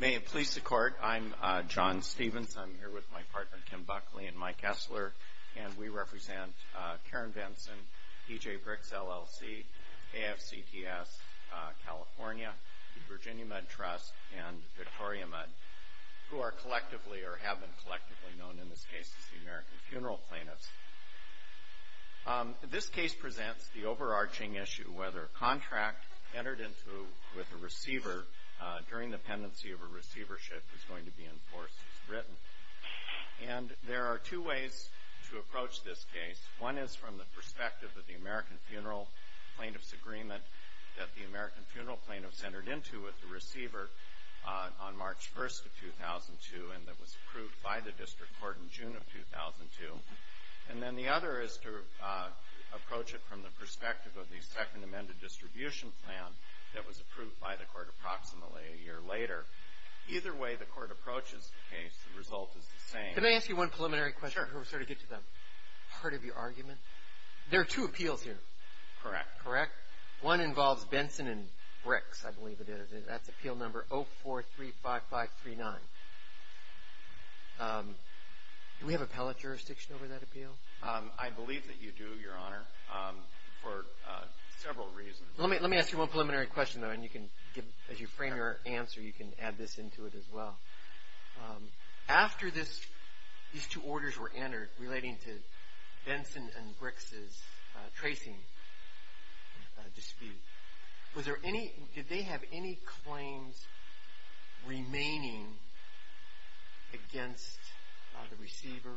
May it please the Court, I'm John Stevens, I'm here with my partner Kim Buckley and Mike Esler, and we represent Karen Benson, E.J. Bricks, LLC, AFCTS, California, the Virginia Med Trust, and Victoria Med, who are collectively or have been collectively known in this case as the American Funeral Plaintiffs. This case presents the overarching issue whether a contract entered into with a receiver during the pendency of a receivership is going to be enforced as written. And there are two ways to approach this case. One is from the perspective of the American Funeral Plaintiffs Agreement that the American Funeral Plaintiffs entered into with the receiver on March 1st of 2002 and that was approved by the District Court in June of 2002. And then the other is to approach it from the perspective of the Second Amended Distribution Plan that was approved by the Court approximately a year later. Either way the Court approaches the case, the result is the same. Let me ask you one preliminary question before we sort of get to the heart of your argument. There are two appeals here. Correct. Correct? One involves Benson and Bricks, I believe it is. That's appeal number 0435539. Do we have appellate jurisdiction over that appeal? I believe that you do, Your Honor, for several reasons. Let me ask you one preliminary question, though, and as you frame your answer you can add this into it as well. After these two orders were entered relating to Benson and Bricks' tracing dispute, did they have any claims remaining against the receiver?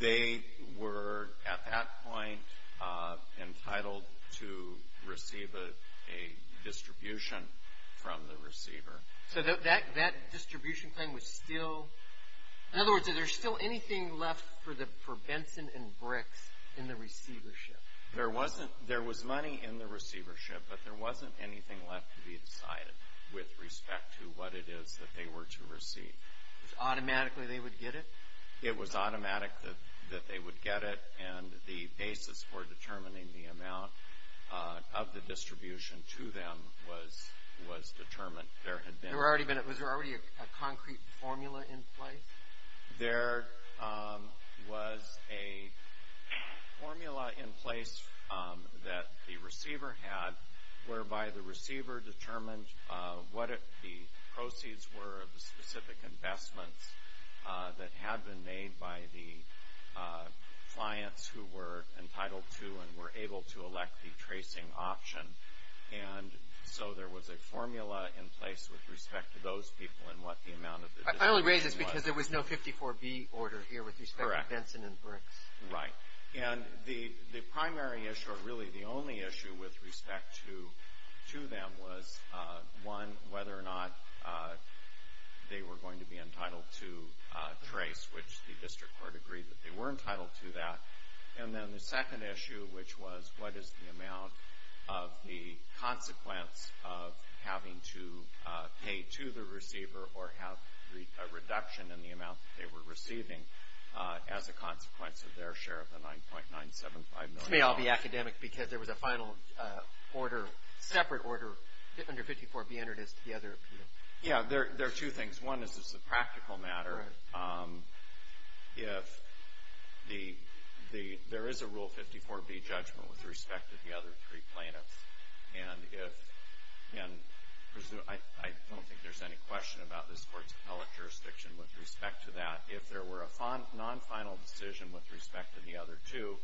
They were at that point entitled to receive a distribution from the receiver. So that distribution claim was still, in other words, is there still anything left for Benson and Bricks in the receivership? There was money in the receivership, but there wasn't anything left to be decided with respect to what it is that they were to receive. Automatically they would get it? It was automatic that they would get it, and the basis for determining the amount of the distribution to them was determined. Was there already a concrete formula in place? There was a formula in place that the receiver had, whereby the receiver determined what the proceeds were of the specific investments that had been made by the clients who were entitled to and were able to elect the tracing option. And so there was a formula in place with respect to those people and what the amount of the distribution was. I only raise this because there was no 54B order here with respect to Benson and Bricks. Correct. Right. And the primary issue, or really the only issue, with respect to them was, one, whether or not they were going to be entitled to trace, which the district court agreed that they were entitled to that. And then the second issue, which was, what is the amount of the consequence of having to pay to the receiver or have a reduction in the amount that they were receiving as a consequence of their share of the $9.975 million? This may all be academic because there was a final order, separate order, under 54B under this to the other appeal. Yeah, there are two things. One is this is a practical matter. If there is a Rule 54B judgment with respect to the other three plaintiffs, and I don't think there's any question about this court's appellate jurisdiction with respect to that. If there were a non-final decision with respect to the other two,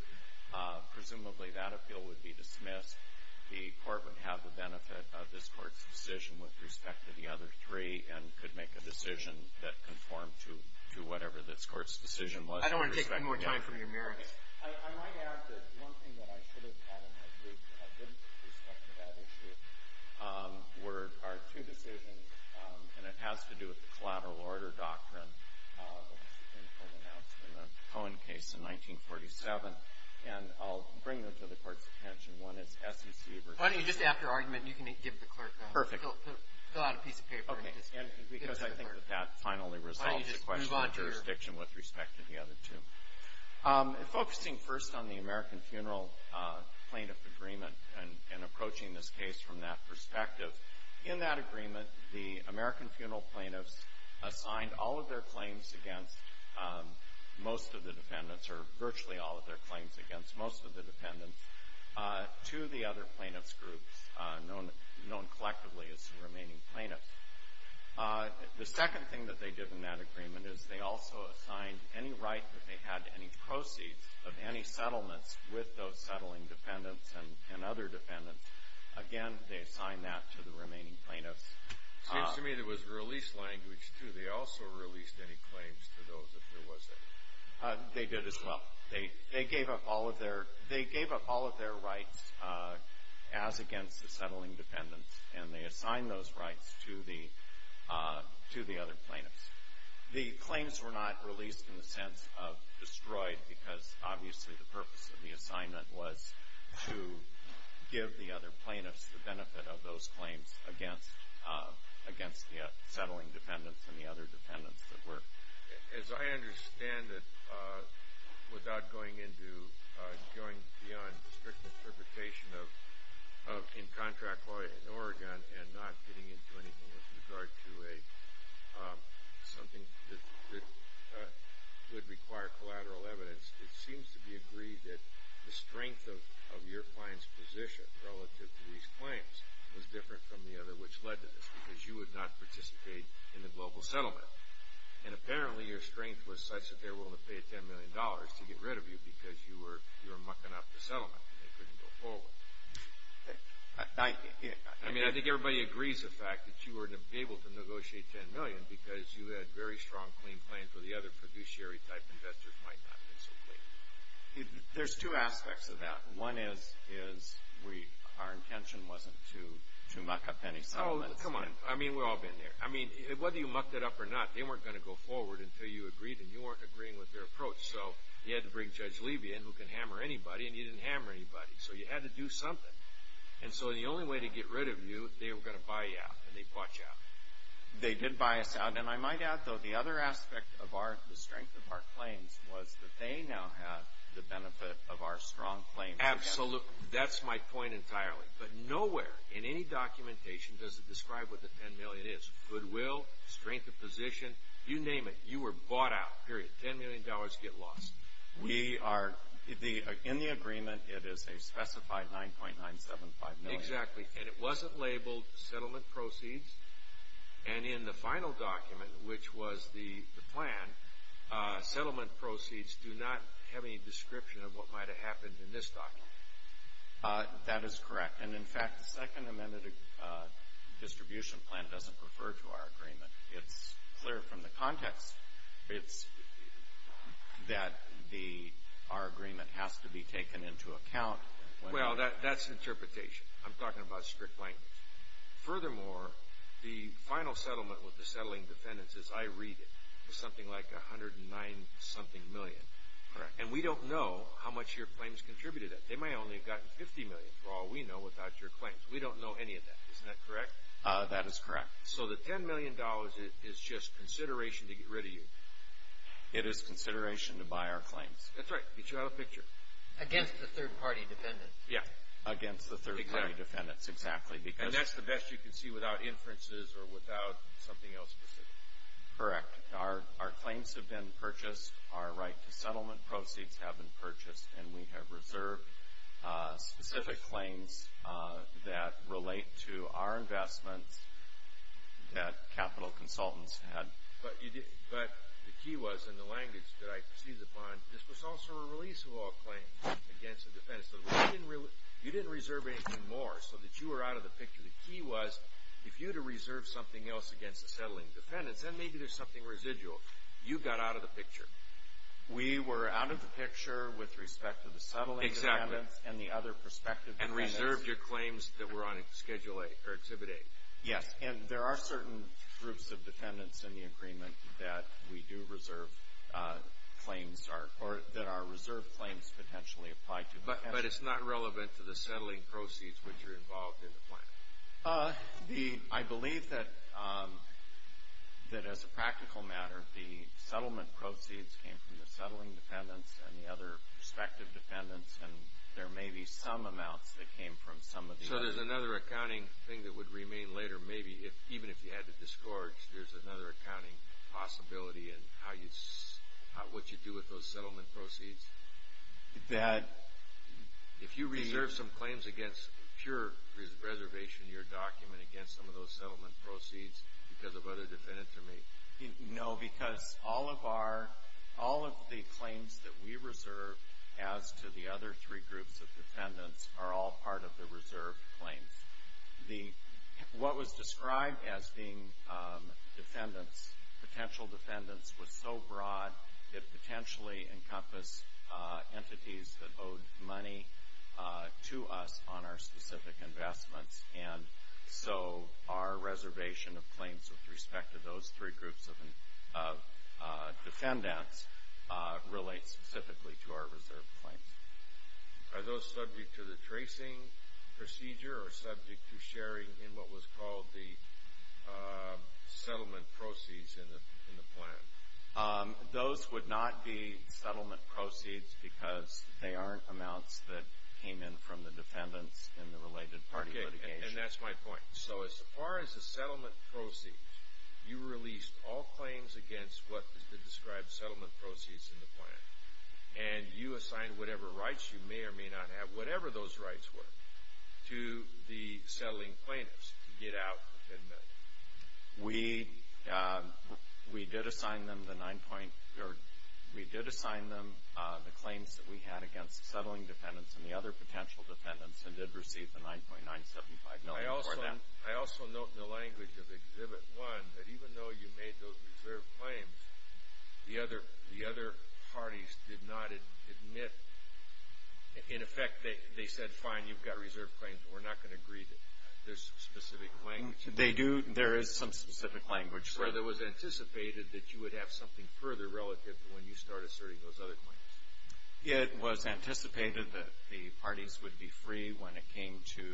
presumably that appeal would be dismissed. The court would have the benefit of this court's decision with respect to the other three and could make a decision that conformed to whatever this court's decision was. I don't want to take any more time from your mirror. I might add that one thing that I should have added, and I did, with respect to that issue, were our two decisions, and it has to do with the collateral order doctrine, the Supreme Court announcement of the Cohen case in 1947. And I'll bring them to the court's attention. One is SEC v. Why don't you just add your argument, and you can give the clerk that. Perfect. Fill out a piece of paper. Okay. And because I think that that finally resolves the question of jurisdiction with respect to the other two. Focusing first on the American Funeral Plaintiff Agreement and approaching this case from that perspective. In that agreement, the American Funeral Plaintiffs assigned all of their claims against most of the defendants, or virtually all of their claims against most of the defendants, to the other plaintiffs' groups known collectively as the remaining plaintiffs. The second thing that they did in that agreement is they also assigned any right that they had to any proceeds of any settlements with those settling defendants and other defendants. Again, they assigned that to the remaining plaintiffs. It seems to me there was a release language, too. They also released any claims to those if there was any. They did as well. They gave up all of their rights as against the settling defendants, and they assigned those rights to the other plaintiffs. The claims were not released in the sense of destroyed because, obviously, the purpose of the assignment was to give the other plaintiffs the benefit of those claims against the settling defendants and the other defendants that were. As I understand it, without going beyond the strict interpretation of in contract law in Oregon and not getting into anything with regard to something that would require collateral evidence, it seems to be agreed that the strength of your client's position relative to these claims was different from the other which led to this because you would not participate in the global settlement. And apparently, your strength was such that they were willing to pay $10 million to get rid of you because you were mucking up the settlement and they couldn't go forward. I mean, I think everybody agrees the fact that you were able to negotiate $10 million because you had very strong, clean claims where the other fiduciary type investors might not have been so clean. There's two aspects of that. One is our intention wasn't to muck up any settlements. Oh, come on. I mean, we've all been there. I mean, whether you mucked it up or not, they weren't going to go forward until you agreed and you weren't agreeing with their approach. So you had to bring Judge Levy in who can hammer anybody, and you didn't hammer anybody. So you had to do something. And so the only way to get rid of you, they were going to buy you out and they bought you out. They did buy us out. And I might add, though, the other aspect of the strength of our claims was that they now have the benefit of our strong claims. Absolutely. That's my point entirely. But nowhere in any documentation does it describe what the $10 million is, goodwill, strength of position, you name it. You were bought out, period. $10 million, get lost. In the agreement, it is a specified $9.975 million. Exactly. And it wasn't labeled settlement proceeds. And in the final document, which was the plan, settlement proceeds do not have any description of what might have happened in this document. That is correct. And, in fact, the Second Amendment distribution plan doesn't refer to our agreement. It's clear from the context that our agreement has to be taken into account. Well, that's interpretation. I'm talking about strict language. Furthermore, the final settlement with the settling defendants, as I read it, was something like $109-something million. Correct. And we don't know how much your claims contributed to that. They may only have gotten $50 million, for all we know, without your claims. We don't know any of that. Isn't that correct? That is correct. So the $10 million is just consideration to get rid of you. It is consideration to buy our claims. That's right. Get you out of the picture. Against the third-party defendants. Yeah, against the third-party defendants. Exactly. And that's the best you can see without inferences or without something else specific. Correct. Our claims have been purchased. Our right to settlement proceeds have been purchased. And we have reserved specific claims that relate to our investments that capital consultants had. But the key was, in the language that I seized upon, this was also a release of all claims against the defendants. You didn't reserve anything more so that you were out of the picture. The key was, if you had to reserve something else against the settling defendants, then maybe there's something residual. You got out of the picture. We were out of the picture with respect to the settling defendants and the other prospective defendants. And reserved your claims that were on Exhibit A. Yes, and there are certain groups of defendants in the agreement that we do reserve claims or that our reserved claims potentially apply to defendants. But it's not relevant to the settling proceeds which are involved in the plan. I believe that, as a practical matter, the settlement proceeds came from the settling defendants and the other prospective defendants, and there may be some amounts that came from some of the others. So there's another accounting thing that would remain later, maybe, even if you had to disgorge. There's another accounting possibility in what you do with those settlement proceeds? That if you reserve some claims against pure reservation in your document against some of those settlement proceeds because of other defendants or maybe? No, because all of the claims that we reserve as to the other three groups of defendants are all part of the reserved claims. What was described as being defendants, potential defendants, was so broad that it potentially encompassed entities that owed money to us on our specific investments. And so our reservation of claims with respect to those three groups of defendants relates specifically to our reserved claims. Are those subject to the tracing procedure or subject to sharing in what was called the settlement proceeds in the plan? Those would not be settlement proceeds because they aren't amounts that came in from the defendants in the related party litigation. Okay, and that's my point. So as far as the settlement proceeds, you released all claims against what is described as settlement proceeds in the plan, and you assigned whatever rights you may or may not have, whatever those rights were, to the settling plaintiffs to get out the 10 million. We did assign them the claims that we had against settling defendants and the other potential defendants and did receive the 9.975 million for that. I also note in the language of Exhibit 1 that even though you made those reserved claims, the other parties did not admit. In effect, they said, fine, you've got reserved claims. We're not going to agree that there's specific claims. They do. There is some specific language. So it was anticipated that you would have something further relative to when you start asserting those other claims. It was anticipated that the parties would be free when it came to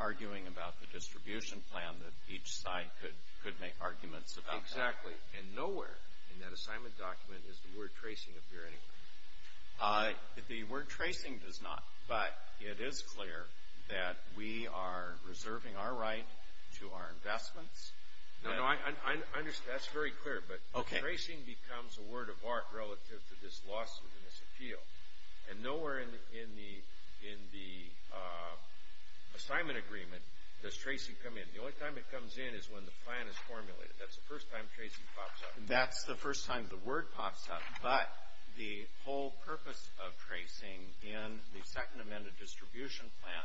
arguing about the distribution plan, that each side could make arguments about that. Exactly, and nowhere in that assignment document does the word tracing appear anywhere. The word tracing does not, but it is clear that we are reserving our right to our investments. No, no, I understand. That's very clear, but tracing becomes a word of art relative to this lawsuit and this appeal, and nowhere in the assignment agreement does tracing come in. The only time it comes in is when the plan is formulated. That's the first time tracing pops up. That's the first time the word pops up, but the whole purpose of tracing in the Second Amendment distribution plan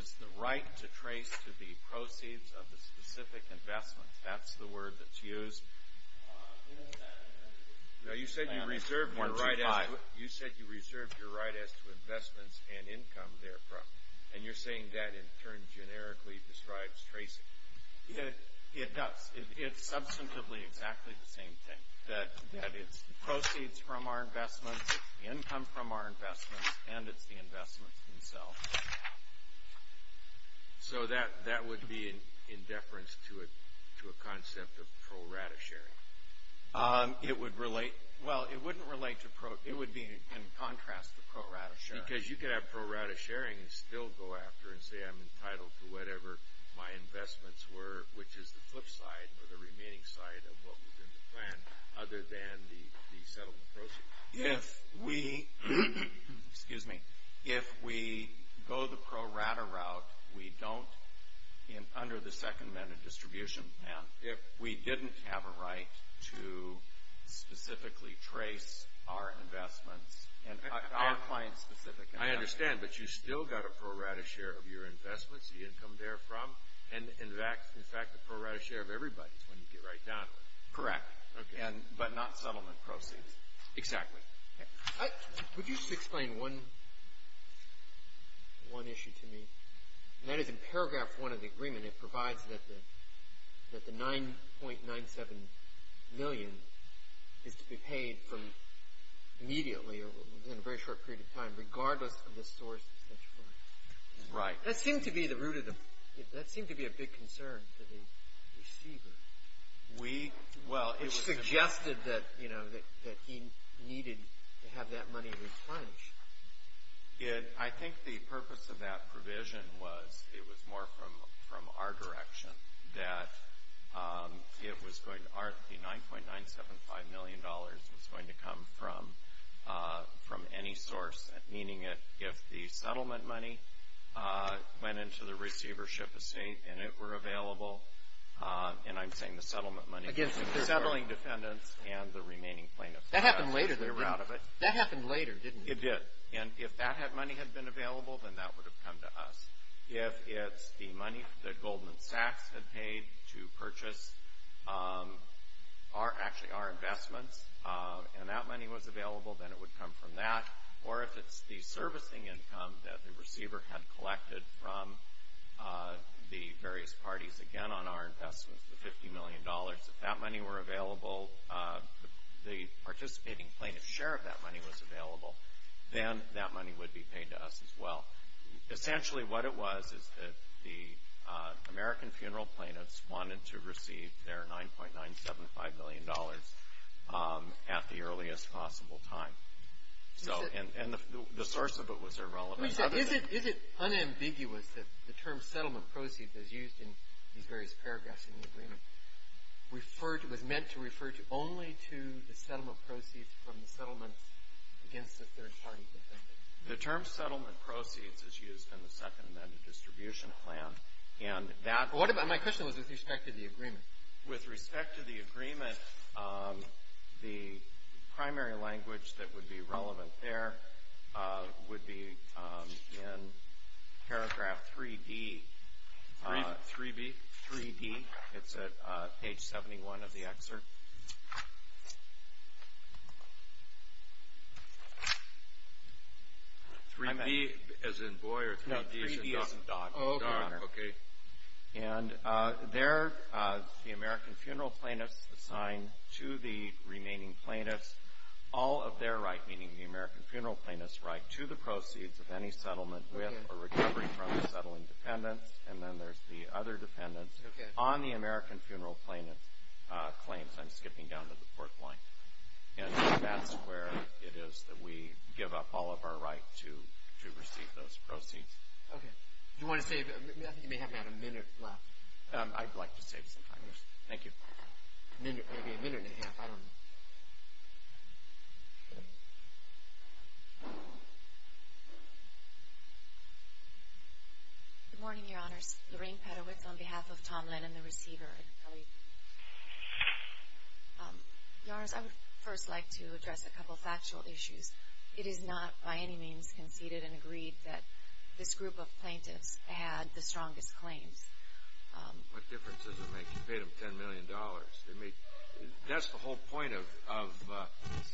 is the right to trace to the proceeds of the specific investments. That's the word that's used. Now, you said you reserved your right as to investments and income therefrom, and you're saying that, in turn, generically describes tracing. It does. It's substantively exactly the same thing, that it's the proceeds from our investments, it's the income from our investments, and it's the investments themselves. So that would be in deference to a concept of pro rata sharing. It would relate. Well, it wouldn't relate to pro. It would be in contrast to pro rata sharing. Because you could have pro rata sharing and still go after it and say I'm entitled to whatever my investments were, which is the flip side or the remaining side of what was in the plan, other than the settlement proceeds. If we go the pro rata route, we don't, under the Second Amendment distribution plan, if we didn't have a right to specifically trace our investments, our client-specific investments. I understand, but you still got a pro rata share of your investments, the income therefrom, and, in fact, the pro rata share of everybody when you get right down to it. Correct. But not settlement proceeds. Exactly. Would you explain one issue to me? That is in paragraph one of the agreement. It provides that the $9.97 million is to be paid from immediately or within a very short period of time regardless of the source of such funds. Right. That seemed to be a big concern to the receiver. Which suggested that he needed to have that money replenished. I think the purpose of that provision was it was more from our direction that the $9.975 million was going to come from any source, meaning if the settlement money went into the receivership estate and it were available, and I'm saying the settlement money, the settling defendants and the remaining plaintiffs. That happened later, didn't it? It did. And if that money had been available, then that would have come to us. If it's the money that Goldman Sachs had paid to purchase actually our investments and that money was available, then it would come from that. Or if it's the servicing income that the receiver had collected from the various parties, again on our investments, the $50 million, if that money were available, the participating plaintiff's share of that money was available, then that money would be paid to us as well. Essentially what it was is that the American funeral plaintiffs wanted to receive their $9.975 million at the earliest possible time. And the source of it was irrelevant. Let me say, is it unambiguous that the term settlement proceeds is used in these various paragraphs in the agreement? It was meant to refer only to the settlement proceeds from the settlements against the third party defendants. The term settlement proceeds is used in the second amended distribution plan. My question was with respect to the agreement. With respect to the agreement, the primary language that would be relevant there would be in paragraph 3D. 3B? 3B. It's at page 71 of the excerpt. 3B as in boy or 3D as in dog? No, 3B as in dog. Dog, okay. And there the American funeral plaintiffs assign to the remaining plaintiffs all of their right, meaning the American funeral plaintiffs' right, to the proceeds of any settlement with or recovery from the settling defendants. And then there's the other dependents on the American funeral plaintiffs' claims. I'm skipping down to the fourth line. And that's where it is that we give up all of our right to receive those proceeds. Okay. Do you want to save? I think you may have about a minute left. I'd like to save some time. Thank you. Maybe a minute and a half. I don't know. Good morning, Your Honors. Lorraine Petowitz on behalf of Tom Lennon, the receiver. Your Honors, I would first like to address a couple of factual issues. It is not by any means conceded and agreed that this group of plaintiffs had the strongest claims. What difference does it make? You paid them $10 million. That's the whole point of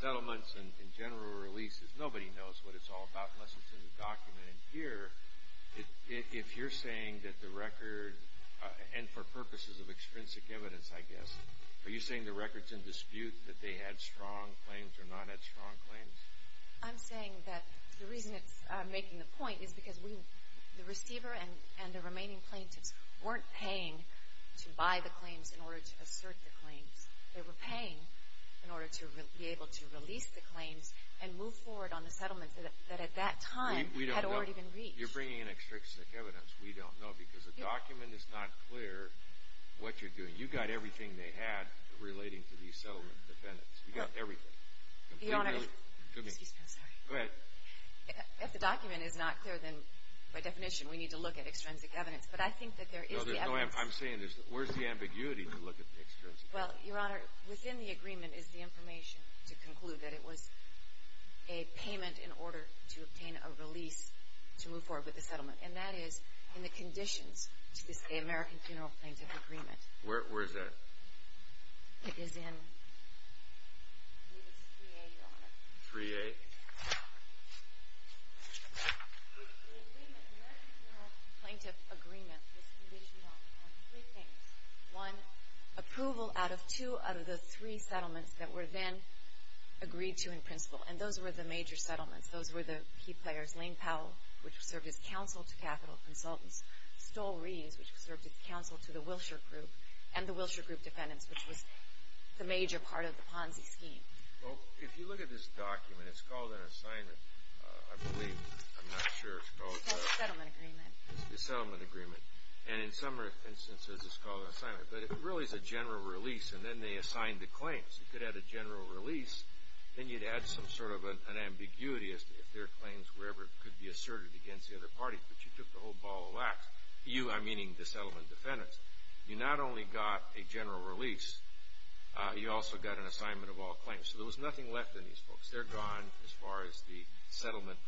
settlements and general releases. Nobody knows what it's all about unless it's in the document. And here, if you're saying that the record, and for purposes of extrinsic evidence, I guess, are you saying the record's in dispute that they had strong claims or not had strong claims? I'm saying that the reason it's making the point is because the receiver and the remaining plaintiffs weren't paying to buy the claims in order to assert the claims. They were paying in order to be able to release the claims and move forward on the settlement that at that time had already been reached. You're bringing in extrinsic evidence. You got everything they had relating to these settlement defendants. You got everything. Excuse me, I'm sorry. Go ahead. If the document is not clear, then by definition we need to look at extrinsic evidence. But I think that there is the evidence. No, I'm saying where's the ambiguity to look at the extrinsic evidence? Well, Your Honor, within the agreement is the information to conclude that it was a payment in order to obtain a release to move forward with the settlement. And that is in the conditions to this American Funeral Plaintiff Agreement. Where is that? It is in 3A, Your Honor. 3A? The American Funeral Plaintiff Agreement was conditioned on three things. One, approval out of two out of the three settlements that were then agreed to in principle. And those were the major settlements. Those were the key players, Lane Powell, which served as counsel to capital consultants, Stoll Reeves, which served as counsel to the Wilshire Group, and the Wilshire Group defendants, which was the major part of the Ponzi scheme. Well, if you look at this document, it's called an assignment, I believe. I'm not sure. It's called a settlement agreement. It's a settlement agreement. And in some instances it's called an assignment. But it really is a general release. And then they assigned the claims. You could add a general release. Then you'd add some sort of an ambiguity as to if their claims could be asserted against the other parties. But you took the whole ball of wax. You, I'm meaning the settlement defendants. You not only got a general release, you also got an assignment of all claims. So there was nothing left in these folks. They're gone as far as the settlement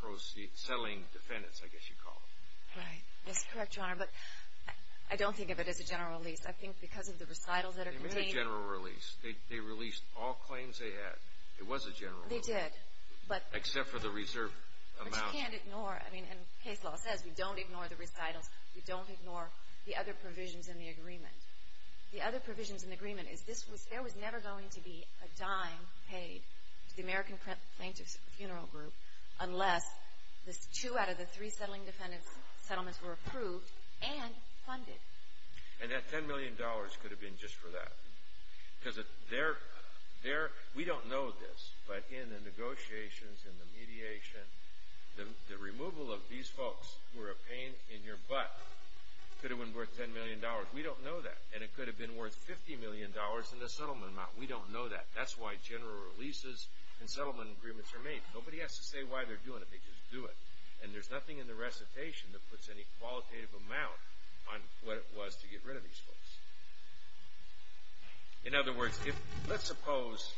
defendants, I guess you'd call them. Right. That's correct, Your Honor. But I don't think of it as a general release. I think because of the recitals that are contained. It was a general release. They released all claims they had. It was a general release. They did. Except for the reserve amount. Which you can't ignore. I mean, and case law says you don't ignore the recitals. You don't ignore the other provisions in the agreement. The other provisions in the agreement is there was never going to be a dime paid to the American plaintiffs funeral group unless two out of the three settling defendants' settlements were approved and funded. And that $10 million could have been just for that. Because we don't know this, but in the negotiations and the mediation, the removal of these folks were a pain in your butt. Could have been worth $10 million. We don't know that. And it could have been worth $50 million in the settlement amount. We don't know that. That's why general releases and settlement agreements are made. Nobody has to say why they're doing it. They just do it. And there's nothing in the recitation that puts any qualitative amount on what it was to get rid of these folks. In other words, let's suppose,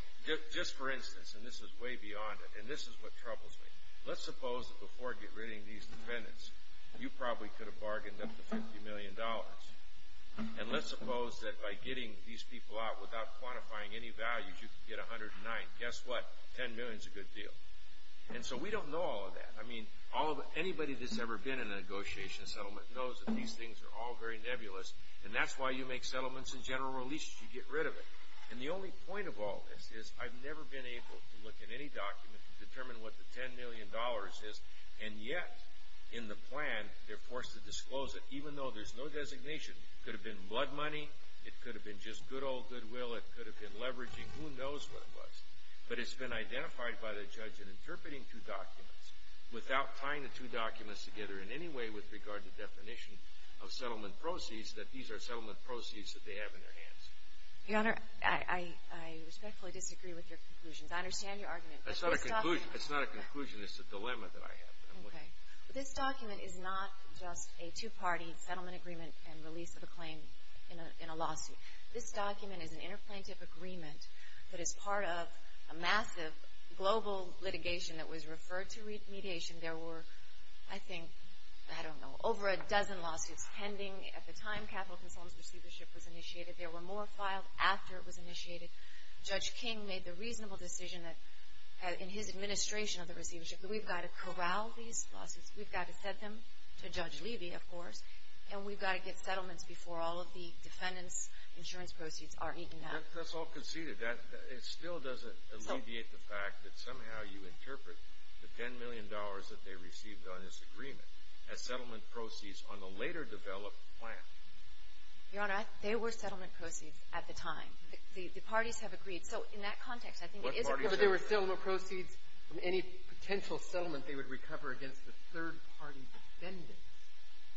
just for instance, and this is way beyond it, and this is what troubles me. Let's suppose that before getting rid of these defendants, you probably could have bargained up to $50 million. And let's suppose that by getting these people out without quantifying any values, you could get $109 million. Guess what? $10 million is a good deal. And so we don't know all of that. I mean, anybody that's ever been in a negotiation settlement knows that these things are all very nebulous, and that's why you make settlements and general releases. You get rid of it. And the only point of all this is I've never been able to look at any document to determine what the $10 million is, and yet in the plan they're forced to disclose it even though there's no designation. It could have been blood money. It could have been just good old goodwill. It could have been leveraging. Who knows what it was? But it's been identified by the judge in interpreting two documents, without tying the two documents together in any way with regard to definition of settlement proceeds, that these are settlement proceeds that they have in their hands. Your Honor, I respectfully disagree with your conclusions. I understand your argument. That's not a conclusion. That's not a conclusion. It's a dilemma that I have. Okay. This document is not just a two-party settlement agreement and release of a claim in a lawsuit. This document is an interplaintive agreement that is part of a massive global litigation that was referred to mediation. There were, I think, I don't know, over a dozen lawsuits pending at the time Capitol Consultant's receivership was initiated. There were more filed after it was initiated. Judge King made the reasonable decision that in his administration of the receivership that we've got to corral these lawsuits. We've got to send them to Judge Levy, of course, and we've got to get settlements before all of the defendants' insurance proceeds are eaten up. That's all conceded. It still doesn't alleviate the fact that somehow you interpret the $10 million that they received on this agreement as settlement proceeds on a later-developed plan. Your Honor, they were settlement proceeds at the time. The parties have agreed. So in that context, I think it is agreed. But there were still no proceeds from any potential settlement they would recover against the third-party defendants.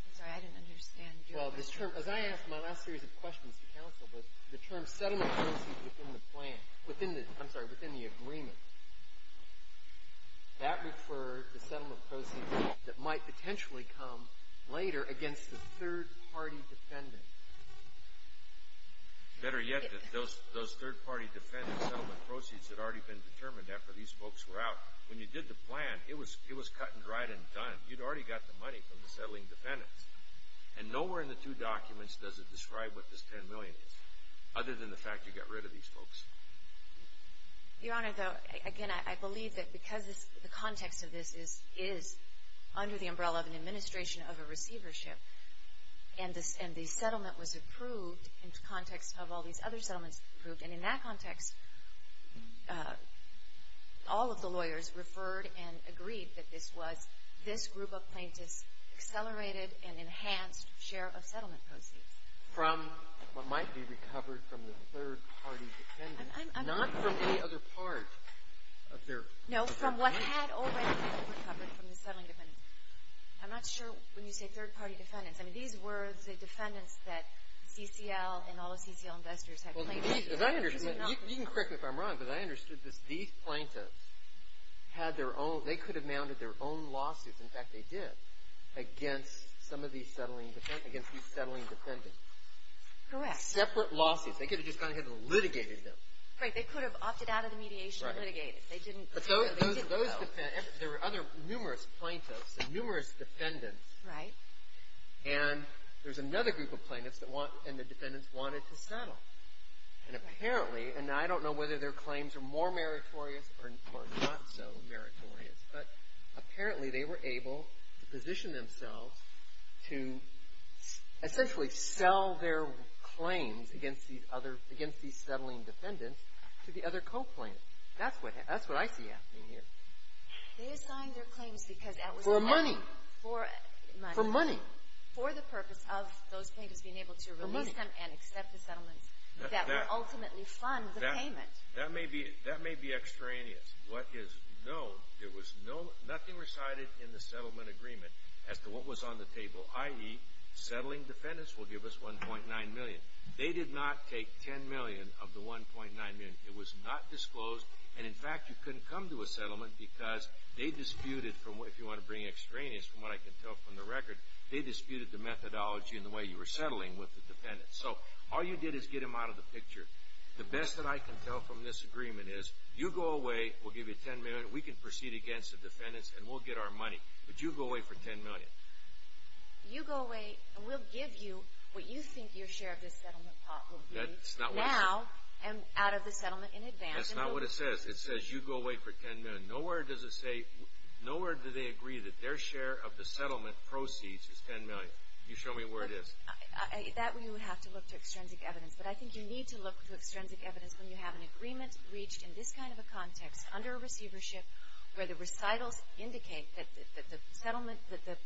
I'm sorry. I didn't understand. Well, this term, as I asked in my last series of questions to counsel, the term settlement proceeds within the plan, I'm sorry, within the agreement, that referred to settlement proceeds that might potentially come later against the third-party defendants. Better yet, those third-party defendants' settlement proceeds had already been determined after these folks were out. When you did the plan, it was cut and dried and done. You'd already got the money from the settling defendants. And nowhere in the two documents does it describe what this $10 million is, other than the fact you got rid of these folks. Your Honor, again, I believe that because the context of this is under the umbrella of an administration of a receivership and the settlement was approved in the context of all these other settlements approved, and in that context, all of the lawyers referred and agreed that this was this group of plaintiffs' accelerated and enhanced share of settlement proceeds. From what might be recovered from the third-party defendants, not from any other part of their proceeds? No, from what had already been recovered from the settling defendants. I'm not sure when you say third-party defendants. I mean, these were the defendants that CCL and all the CCL investors had claimed to be. You can correct me if I'm wrong, but I understood that these plaintiffs had their own – they could have mounted their own lawsuits. In fact, they did, against some of these settling defendants. Correct. Separate lawsuits. They could have just gone ahead and litigated them. They could have opted out of the mediation and litigated. Right. But those defendants – there were other numerous plaintiffs and numerous defendants. Right. And there's another group of plaintiffs that want – and the defendants wanted to settle. And apparently – and I don't know whether their claims are more meritorious or not so meritorious, but apparently they were able to position themselves to essentially sell their claims against these other – against these settling defendants to the other co-plaintiffs. That's what – that's what I see happening here. They assigned their claims because that was – For money. For money. For the purpose of those plaintiffs being able to release them and accept the settlements that would ultimately fund the payment. That may be extraneous. What is known, there was no – nothing recited in the settlement agreement as to what was on the table, i.e. settling defendants will give us $1.9 million. They did not take $10 million of the $1.9 million. It was not disclosed. And, in fact, you couldn't come to a settlement because they disputed from what – they disputed the methodology and the way you were settling with the defendants. So all you did is get them out of the picture. The best that I can tell from this agreement is you go away, we'll give you $10 million, we can proceed against the defendants and we'll get our money. But you go away for $10 million. You go away and we'll give you what you think your share of the settlement pot will be. That's not what it says. Now and out of the settlement in advance. That's not what it says. It says you go away for $10 million. Nowhere does it say – nowhere do they agree that their share of the settlement proceeds is $10 million. Can you show me where it is? That we would have to look to extrinsic evidence. But I think you need to look to extrinsic evidence when you have an agreement reached in this kind of a context under a receivership where the recitals indicate that the settlement – that the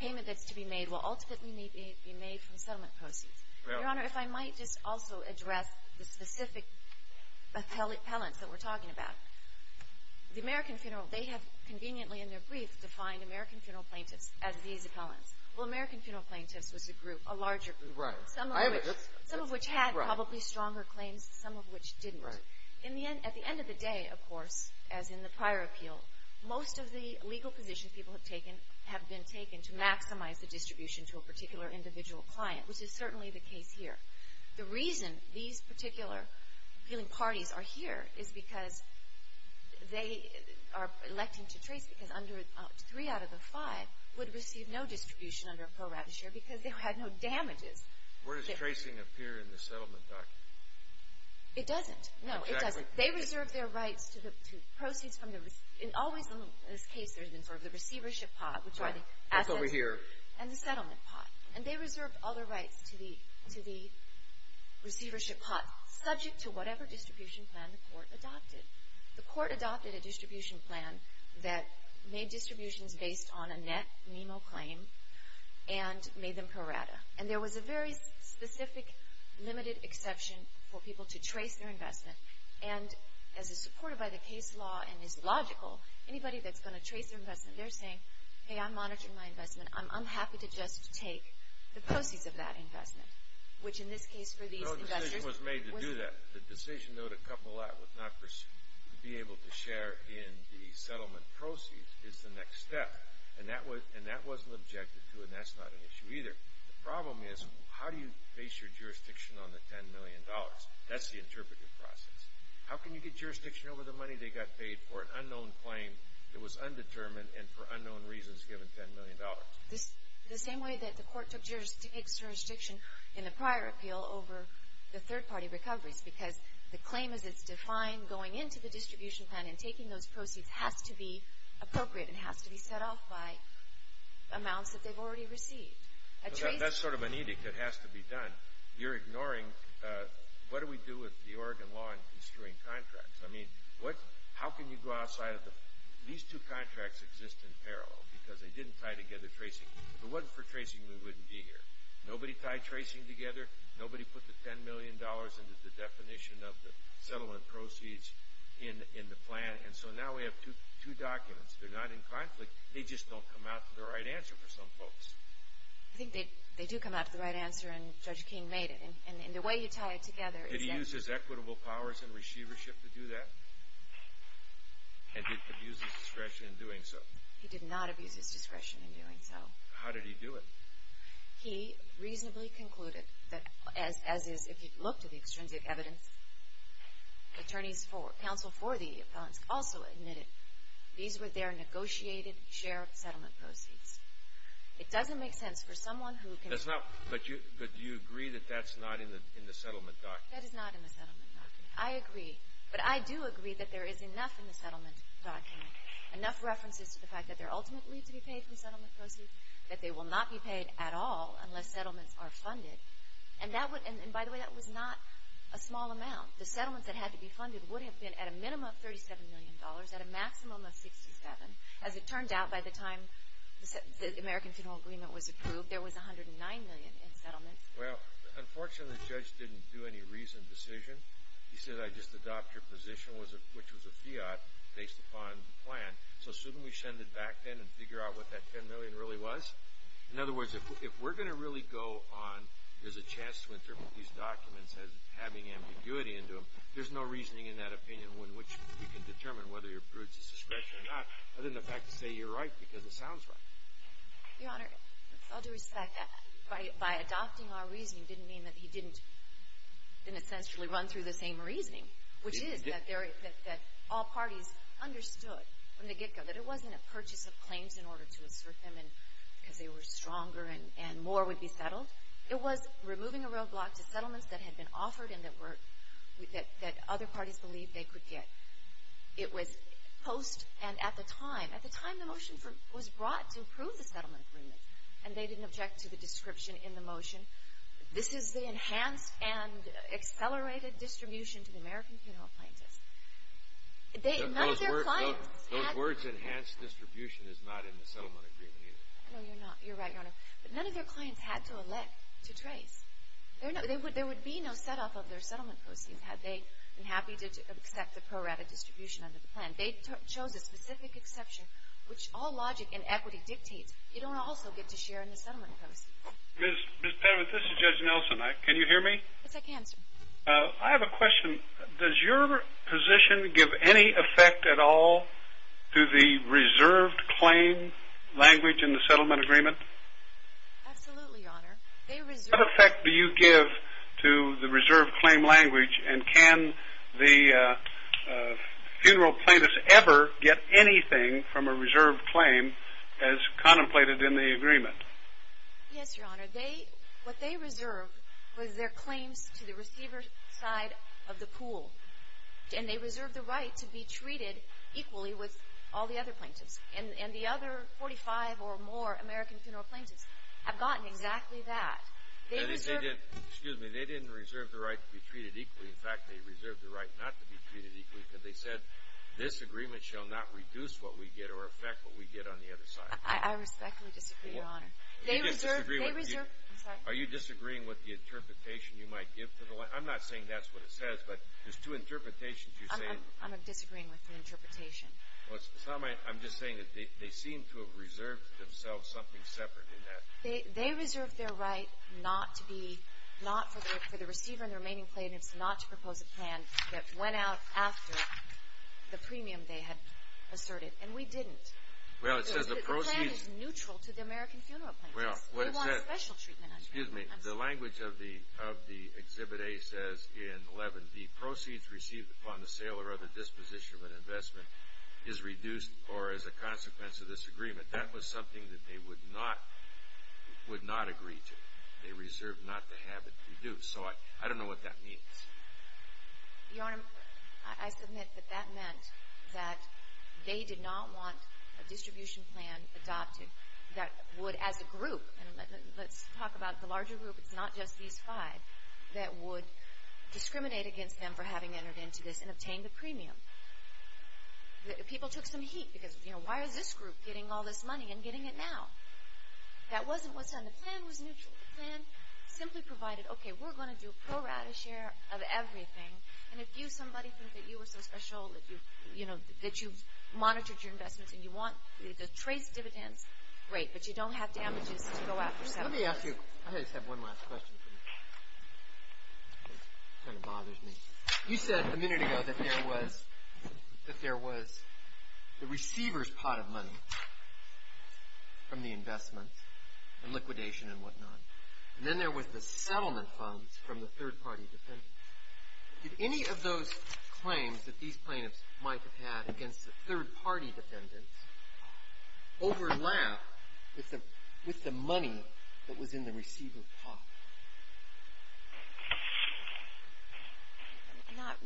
payment that's to be made will ultimately be made from settlement proceeds. Your Honor, if I might just also address the specific appellants that we're talking about. The American Funeral, they have conveniently in their brief defined American Funeral Plaintiffs as these appellants. Well, American Funeral Plaintiffs was a group, a larger group. Some of which had probably stronger claims, some of which didn't. At the end of the day, of course, as in the prior appeal, most of the legal positions people have taken have been taken to maximize the distribution to a particular individual client, which is certainly the case here. The reason these particular appealing parties are here is because they are electing to trace because under – three out of the five would receive no distribution under a pro rata share because they had no damages. Where does tracing appear in the settlement document? It doesn't. No, it doesn't. They reserve their rights to the – to proceeds from the – and always in this case there's been sort of the receivership pot, which are the assets. That's over here. And the settlement pot. And they reserve all their rights to the receivership pot, subject to whatever distribution plan the court adopted. The court adopted a distribution plan that made distributions based on a net NEMO claim and made them pro rata. And there was a very specific limited exception for people to trace their investment. And as is supported by the case law and is logical, anybody that's going to trace their investment, they're saying, hey, I'm monitoring my investment. I'm happy to just take the proceeds of that investment, which in this case for these investors – No decision was made to do that. The decision, though, to couple that with not be able to share in the settlement proceeds is the next step. And that wasn't objected to, and that's not an issue either. The problem is how do you base your jurisdiction on the $10 million? That's the interpretive process. How can you get jurisdiction over the money they got paid for an unknown claim that was undetermined and for unknown reasons given $10 million? The same way that the court took jurisdiction in the prior appeal over the third-party recoveries, because the claim as it's defined going into the distribution plan and taking those proceeds has to be appropriate and has to be set off by amounts that they've already received. That's sort of an edict that has to be done. You're ignoring what do we do with the Oregon law in construing contracts? I mean, how can you go outside of the – these two contracts exist in parallel because they didn't tie together tracing. If it wasn't for tracing, we wouldn't be here. Nobody tied tracing together. Nobody put the $10 million into the definition of the settlement proceeds in the plan. And so now we have two documents. They're not in conflict. They just don't come out to the right answer for some folks. I think they do come out to the right answer, and Judge King made it. And the way you tie it together is that – Did he use his equitable powers and receivership to do that? And did he abuse his discretion in doing so? He did not abuse his discretion in doing so. How did he do it? He reasonably concluded that, as is – if you look to the extrinsic evidence, attorneys for – counsel for the appellants also admitted these were their negotiated share of settlement proceeds. It doesn't make sense for someone who can – That's not – but do you agree that that's not in the settlement document? That is not in the settlement document. I agree. But I do agree that there is enough in the settlement document, enough references to the fact that they're ultimately to be paid from settlement proceeds, that they will not be paid at all unless settlements are funded. And that would – and by the way, that was not a small amount. The settlements that had to be funded would have been at a minimum of $37 million, at a maximum of $67 million. As it turned out, by the time the American Funeral Agreement was approved, there was $109 million in settlements. Well, unfortunately, the judge didn't do any reasoned decision. He said, I just adopt your position, which was a fiat based upon the plan. So shouldn't we send it back then and figure out what that $10 million really was? In other words, if we're going to really go on – there's a chance to interpret these documents as having ambiguity into them, there's no reasoning in that opinion in which we can determine whether your proof is a suspicion or not, other than the fact to say you're right because it sounds right. Your Honor, with all due respect, by adopting our reasoning didn't mean that he didn't – didn't essentially run through the same reasoning, which is that all parties understood from the get-go that it wasn't a purchase of claims in order to assert them because they were stronger and more would be settled. It was removing a roadblock to settlements that had been offered and that were – that other parties believed they could get. It was post and at the time – at the time the motion was brought to approve the settlement agreement and they didn't object to the description in the motion, this is the enhanced and accelerated distribution to the American Funeral Plaintiffs. None of their clients – Those words enhanced distribution is not in the settlement agreement either. No, you're not. You're right, Your Honor. But none of their clients had to elect to trace. There would be no set-off of their settlement proceeds had they been happy to accept the pro-rata distribution under the plan. They chose a specific exception, which all logic in equity dictates. You don't also get to share in the settlement proceeds. Ms. Penwood, this is Judge Nelson. Can you hear me? Yes, I can, sir. I have a question. Does your position give any effect at all to the reserved claim language in the settlement agreement? Absolutely, Your Honor. They reserved – What effect do you give to the reserved claim language and can the funeral plaintiffs ever get anything from a reserved claim as contemplated in the agreement? Yes, Your Honor. They – what they reserved was their claims to the receiver side of the pool. And they reserved the right to be treated equally with all the other plaintiffs. And the other 45 or more American Funeral Plaintiffs have gotten exactly that. They reserved – Excuse me. They didn't reserve the right to be treated equally. In fact, they reserved the right not to be treated equally because they said, this agreement shall not reduce what we get or affect what we get on the other side. I respectfully disagree, Your Honor. They reserved – Are you disagreeing with the interpretation you might give to the – I'm not saying that's what it says, but there's two interpretations you're saying. I'm disagreeing with the interpretation. Well, it's not my – I'm just saying that they seem to have reserved themselves something separate in that. They reserved their right not to be – not for the receiver and the remaining plaintiffs not to propose a plan that went out after the premium they had asserted. And we didn't. Well, it says the proceeds – The plan is neutral to the American Funeral Plaintiffs. Well, what it says – They want special treatment under it. Excuse me. The language of the Exhibit A says in 11B, proceeds received upon the sale or other disposition of an investment is reduced or is a consequence of this agreement. That was something that they would not agree to. They reserved not to have it reduced. So I don't know what that means. Your Honor, I submit that that meant that they did not want a distribution plan adopted that would, as a group – and let's talk about the larger group, it's not just these five – that would discriminate against them for having entered into this and obtained the premium. People took some heat because, you know, why is this group getting all this money and getting it now? That wasn't what's on the plan. It was neutral to the plan. The plan simply provided, okay, we're going to do pro rata share of everything, and if you, somebody, think that you are so special that you've, you know, that you've monitored your investments and you want the trace dividends, great, but you don't have damages to go after. Let me ask you – I just have one last question for you. It kind of bothers me. You said a minute ago that there was the receiver's pot of money from the investments and liquidation and whatnot. And then there was the settlement funds from the third-party defendants. Did any of those claims that these plaintiffs might have had against the third-party defendants overlap with the money that was in the receiver's pot?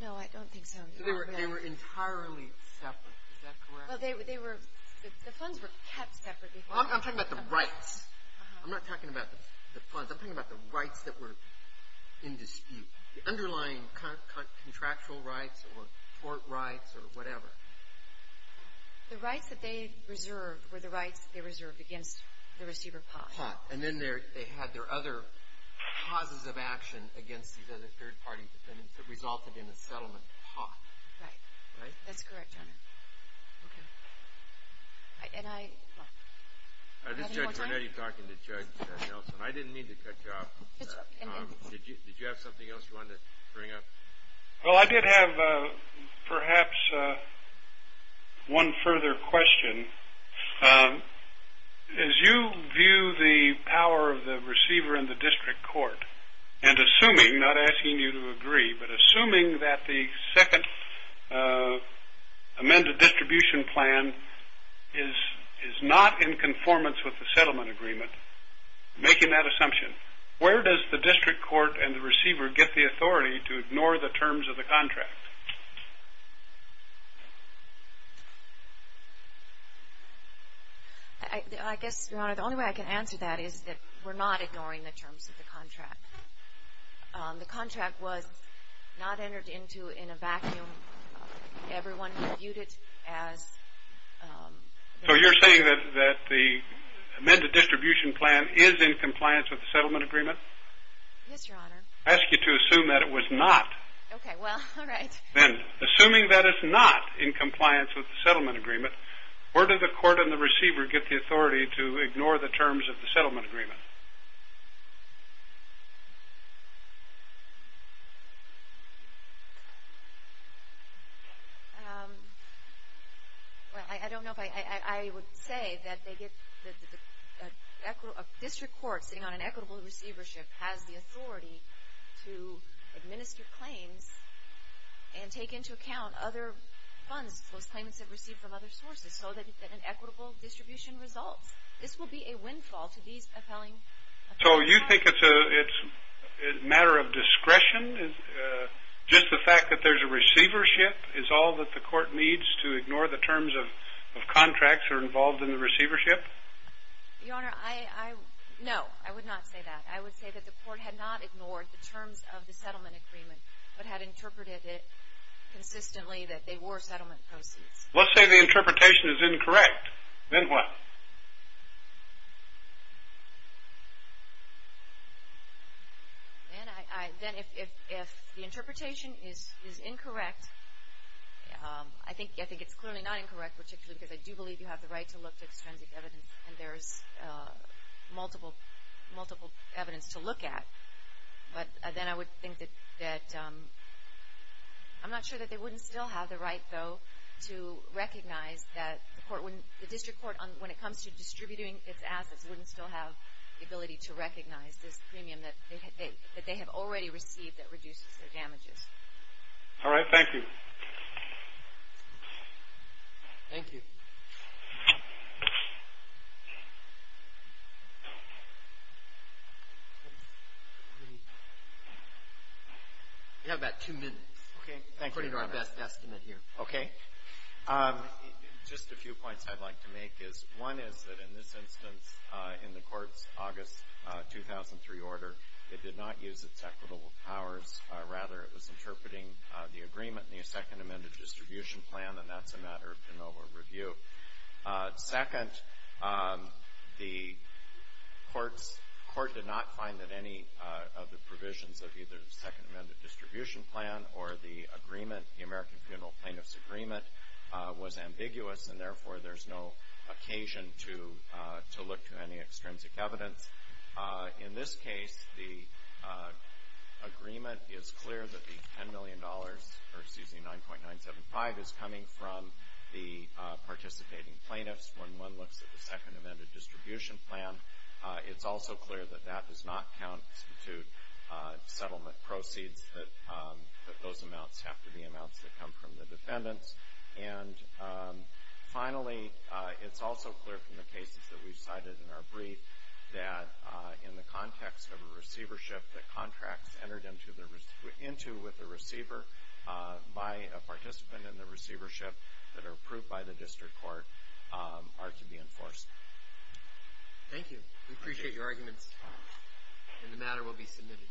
No, I don't think so. They were entirely separate. Is that correct? Well, they were – the funds were kept separate. I'm talking about the rights. I'm not talking about the funds. I'm talking about the rights that were in dispute, the underlying contractual rights or court rights or whatever. The rights that they reserved were the rights they reserved against the receiver's pot. Pot. And then they had their other causes of action against these other third-party defendants that resulted in the settlement pot. Right. Right? That's correct, Your Honor. Okay. And I – do we have any more time? This is Judge Burnett. You're talking to Judge Nelson. I didn't mean to cut you off. Did you have something else you wanted to bring up? Well, I did have perhaps one further question. As you view the power of the receiver in the district court, and assuming – not asking you to agree, but assuming that the second amended distribution plan is not in conformance with the settlement agreement, making that assumption, where does the district court and the receiver get the authority to ignore the terms of the contract? I guess, Your Honor, the only way I can answer that is that we're not ignoring the terms of the contract. The contract was not entered into in a vacuum. Everyone viewed it as – So you're saying that the amended distribution plan is in compliance with the settlement agreement? Yes, Your Honor. I ask you to assume that it was not. Okay. Well, all right. Then, assuming that it's not in compliance with the settlement agreement, where do the court and the receiver get the authority to ignore the terms of the settlement agreement? Well, I don't know if I would say that they get – a district court sitting on an equitable receivership has the authority to administer claims and take into account other funds, those claims they've received from other sources, so that an equitable distribution results. This will be a windfall to these appellees. So you think it's a matter of discretion, just the fact that there's a receivership, is all that the court needs to ignore the terms of contracts that are involved in the receivership? Your Honor, I – no, I would not say that. I would say that the court had not ignored the terms of the settlement agreement, but had interpreted it consistently that they were settlement proceeds. Let's say the interpretation is incorrect. Then what? Then if the interpretation is incorrect, I think it's clearly not incorrect, particularly because I do believe you have the right to look to extrinsic evidence, and there's multiple evidence to look at. But then I would think that – I'm not sure that they wouldn't still have the right, though, to recognize that the district court, when it comes to distributing its assets, wouldn't still have the ability to recognize this premium that they have already received that reduces their damages. All right, thank you. Thank you. We have about two minutes. Okay, thank you, Your Honor. According to our best estimate here. Okay. Just a few points I'd like to make is, one is that in this instance, in the court's August 2003 order, it did not use its equitable powers. Rather, it was interpreting the agreement in the second amended distribution plan, and that's a matter of de novo review. Second, the court did not find that any of the provisions of either the second amended distribution plan or the agreement, the American Funeral Plaintiffs Agreement, was ambiguous, and therefore there's no occasion to look to any extrinsic evidence. In this case, the agreement is clear that the $10 million, or excuse me, 9.975 is coming from the participating plaintiffs. When one looks at the second amended distribution plan, it's also clear that that does not count to settlement proceeds, that those amounts have to be amounts that come from the defendants. And finally, it's also clear from the cases that we've cited in our brief that in the context of a receivership, the contracts entered into with the receiver by a participant in the receivership that are approved by the district court are to be enforced. Thank you. We appreciate your arguments, and the matter will be submitted.